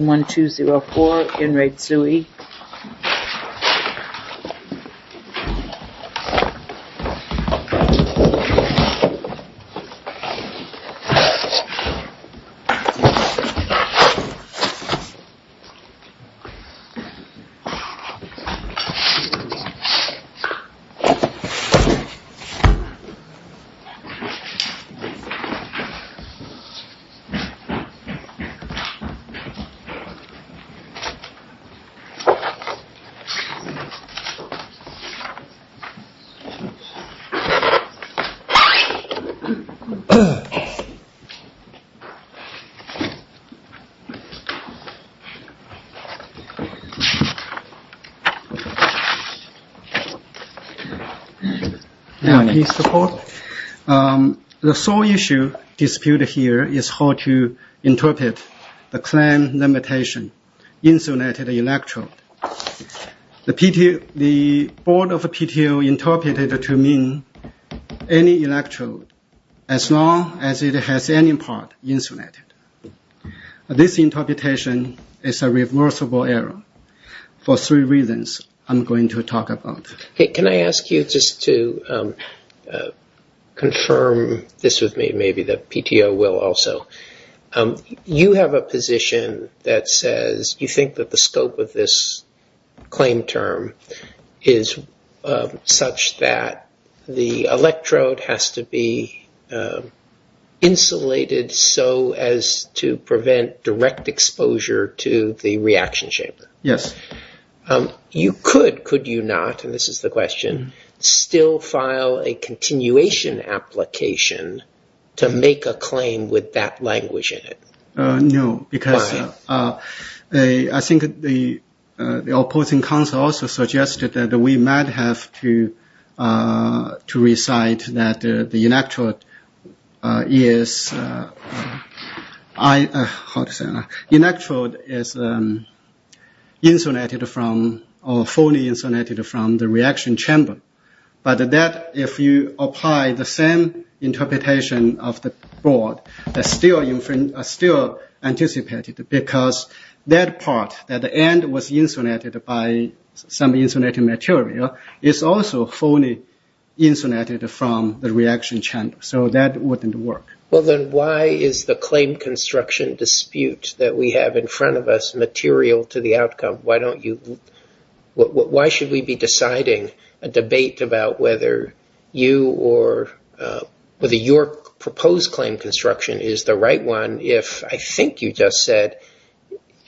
1-2-0-4 in Re Tsui The sole issue disputed here is how to interpret the claim limited to the interpretation insulated electrode. The board of PTO interpreted to mean any electrode as long as it has any part insulated. This interpretation is a reversible error for three reasons I'm going to talk about. Can I ask you just to confirm this with me, maybe the PTO will also. You have a position that says you think that the scope of this claim term is such that the electrode has to be insulated so as to prevent direct exposure to the reaction chamber. Yes. You could, could you not, and this is the question, still file a continuation application to make a claim with that language in it? No, because I think the opposing counsel also suggested that we might have to recite that the electrode is fully insulated from the reaction chamber. But that, if you apply the same interpretation of the board, is still anticipated because that part, that the end was insulated by some insulated material, is also fully insulated from the reaction chamber. So that wouldn't work. Well then why is the claim construction dispute that we have in front of us material to the outcome? Why don't you, why should we be deciding a debate about whether you or whether your proposed claim construction is the right one if I think you just said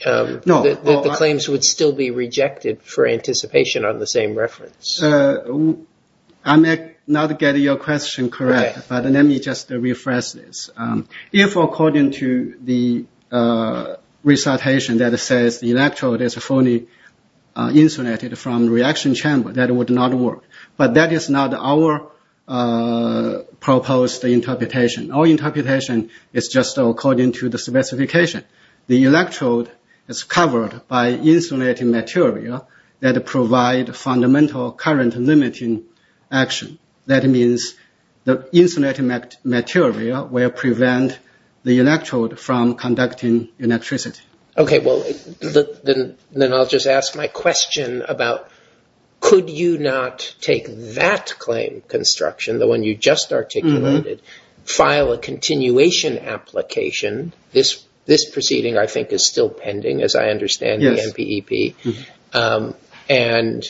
that the claims would still be rejected for anticipation on the same reference? I may not get your question correct, but let me just rephrase this. If according to the recitation that says the electrode is fully insulated from the reaction chamber, that would not work. But that is not our proposed interpretation. Our interpretation is just according to the specification. The electrode is covered by insulating material that provide fundamental current limiting action. That means the insulating material will prevent the electrode from conducting electricity. Okay, well then I'll just ask my question about could you not take that claim construction, the one you just articulated, file a continuation application, this proceeding I think is still pending as I understand the NPEP, and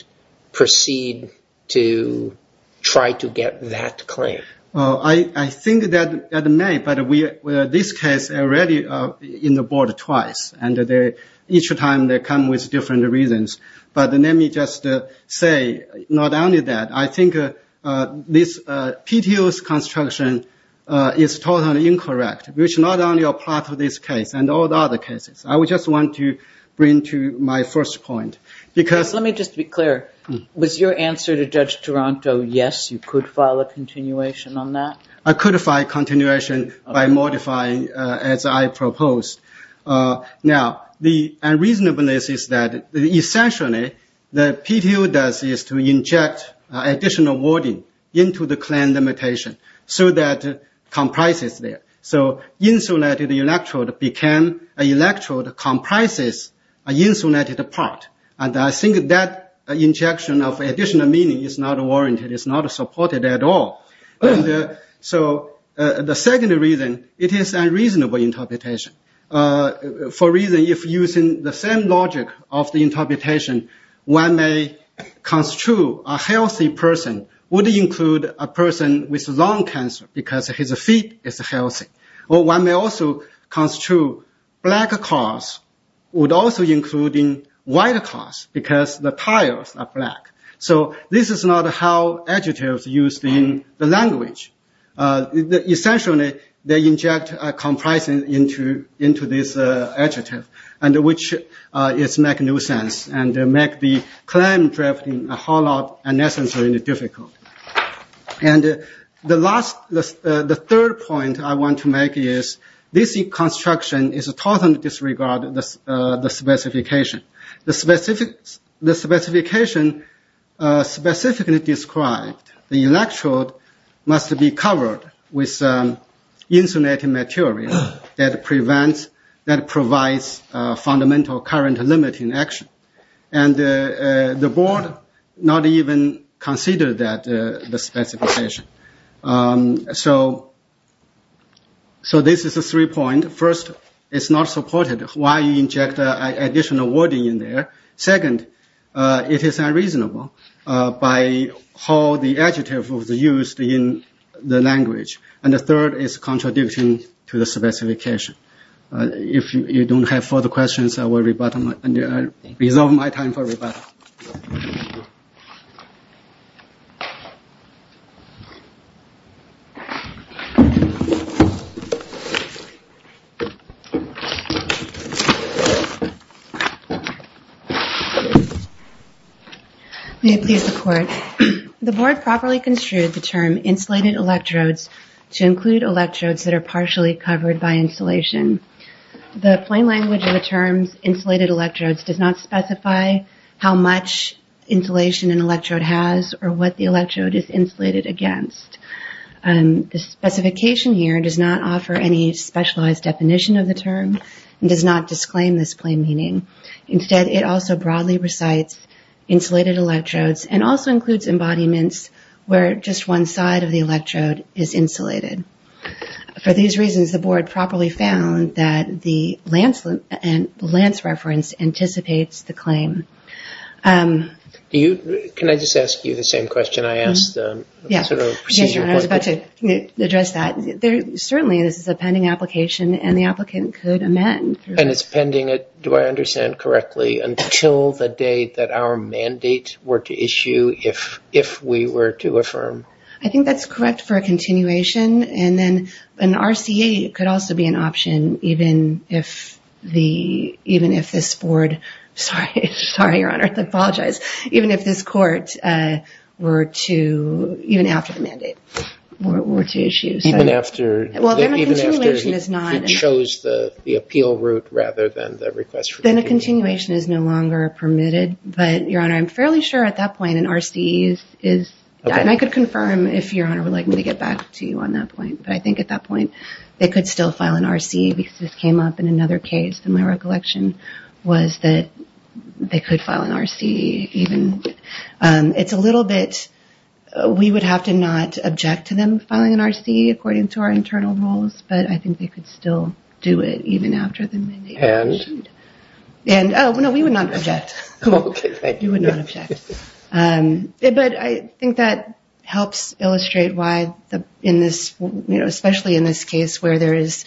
proceed to try to get that claim? I think that may, but this case already in the board twice, and each time they come with different reasons. But let me just say not only that, I think this PTO's construction is totally incorrect, which not only applies to this case and all the other cases. I just want to bring to my first point. Let me just be clear. Was your answer to Judge Toronto, yes, you could file a continuation on that? I could file a continuation by modifying as I proposed. Now, the reasonableness is that essentially the PTO does is to inject additional wording into the claim limitation so that it comprises there. So insulated electrode comprises an insulated part, and I think that injection of additional meaning is not warranted, it's not supported at all. So the second reason, it is unreasonable interpretation. For reason, if using the same logic of the interpretation, one may construe a healthy person would include a person with lung cancer because his feet is healthy. Or one may also construe black cars would also include white cars because the tires are black. So this is not how adjectives are used in the language. Essentially, they inject comprising into this adjective, which makes no sense and makes the claim drafting a whole lot less difficult. And the third point I want to make is this construction is a total disregard of the specification. The specification specifically described the electrode must be covered with insulated material that provides fundamental current limiting action. And the board not even considered the specification. So this is the three points. First, it's not supported. Why inject additional wording in there? Second, it is unreasonable by how the adjective was used in the language. And the third is contradicting to the specification. If you don't have further questions, I will resolve my time for rebuttal. May it please the court. The board properly construed the term insulated electrodes to include electrodes that are partially covered by insulation. The plain language of the term insulated electrodes does not specify how much insulation an electrode has or what the electrode is insulated against. The specification here does not offer any specialized definition of the term and does not disclaim this plain meaning. Instead, it also broadly recites insulated electrodes and also includes embodiments where just one side of the electrode is insulated. For these reasons, the board properly found that the Lance reference anticipates the claim. Can I just ask you the same question I asked? Yes, I was about to address that. Certainly, this is a pending application and the applicant could amend. And it's pending, do I understand correctly, until the date that our mandate were to issue if we were to affirm? I think that's correct for a continuation. And then an RCA could also be an option even if this board, sorry, your honor, I apologize, even if this court were to, even after the mandate, were to issue. Even after? Well, then a continuation is not. It shows the appeal route rather than the request. Then a continuation is no longer permitted. But your honor, I'm fairly sure at that point an RCA is. And I could confirm if your honor would like me to get back to you on that point. But I think at that point they could still file an RCA because this came up in another case. And my recollection was that they could file an RCA even. It's a little bit. We would have to not object to them filing an RCA according to our internal rules. But I think they could still do it even after the mandate. And? And, oh, no, we would not object. Cool. You would not object. But I think that helps illustrate why in this, especially in this case where there is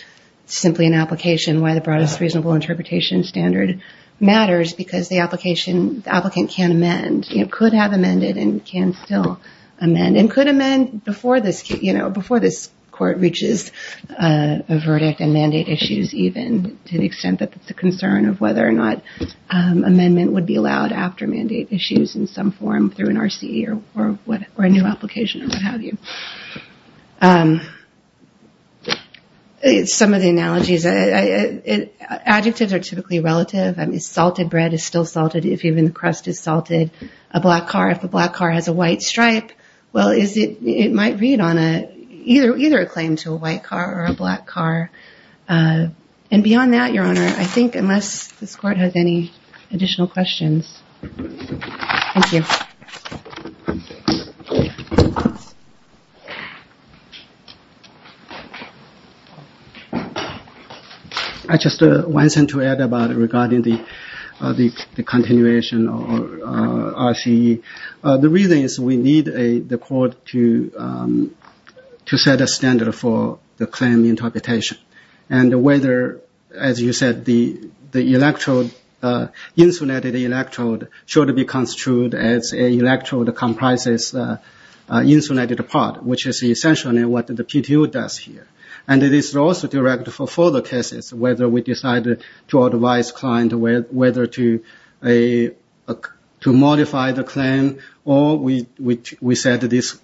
simply an application, why the Broadest Reasonable Interpretation standard matters. Because the application, the applicant can amend, could have amended and can still amend. And could amend before this, you know, before this court reaches a verdict and mandate issues even. To the extent that it's a concern of whether or not amendment would be allowed after mandate issues in some form through an RCE or a new application or what have you. Some of the analogies. Adjectives are typically relative. Salted bread is still salted if even the crust is salted. A black car, if a black car has a white stripe. Well, is it? It might read on a either either a claim to a white car or a black car. And beyond that, Your Honor, I think unless this court has any additional questions. Thank you. I just wanted to add about regarding the continuation of RCE. The reason is we need the court to set a standard for the claim interpretation. And whether, as you said, the electrode, insulated electrode should be construed as a electrode comprises insulated part, which is essentially what the PTO does here. And it is also direct for further cases, whether we decided to advise client whether to modify the claim or we said this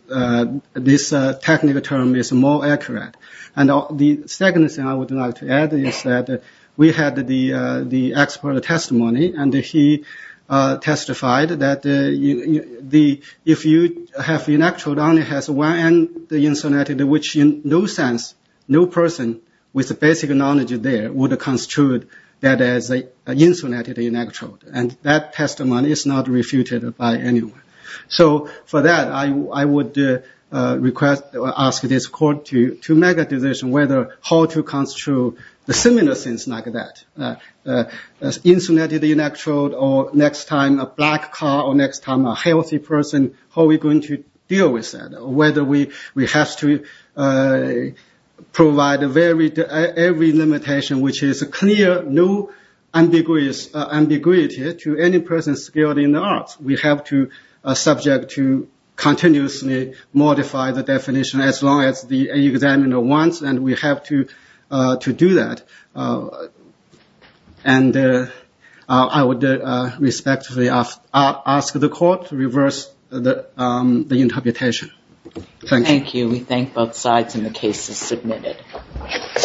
technical term is more accurate. And the second thing I would like to add is that we had the expert testimony and he testified that if you have an electrode on it has one end insulated, which in no sense, no person with the basic knowledge there would have construed that as an insulated electrode. And that testimony is not refuted by anyone. So for that, I would ask this court to make a decision whether how to construe the similar things like that. Insulated electrode or next time a black car or next time a healthy person, how are we going to deal with that? Whether we have to provide every limitation, which is clear, no ambiguity to any person skilled in the arts. We have to subject to continuously modify the definition as long as the examiner wants and we have to do that. And I would respectfully ask the court to reverse the interpretation. Thank you.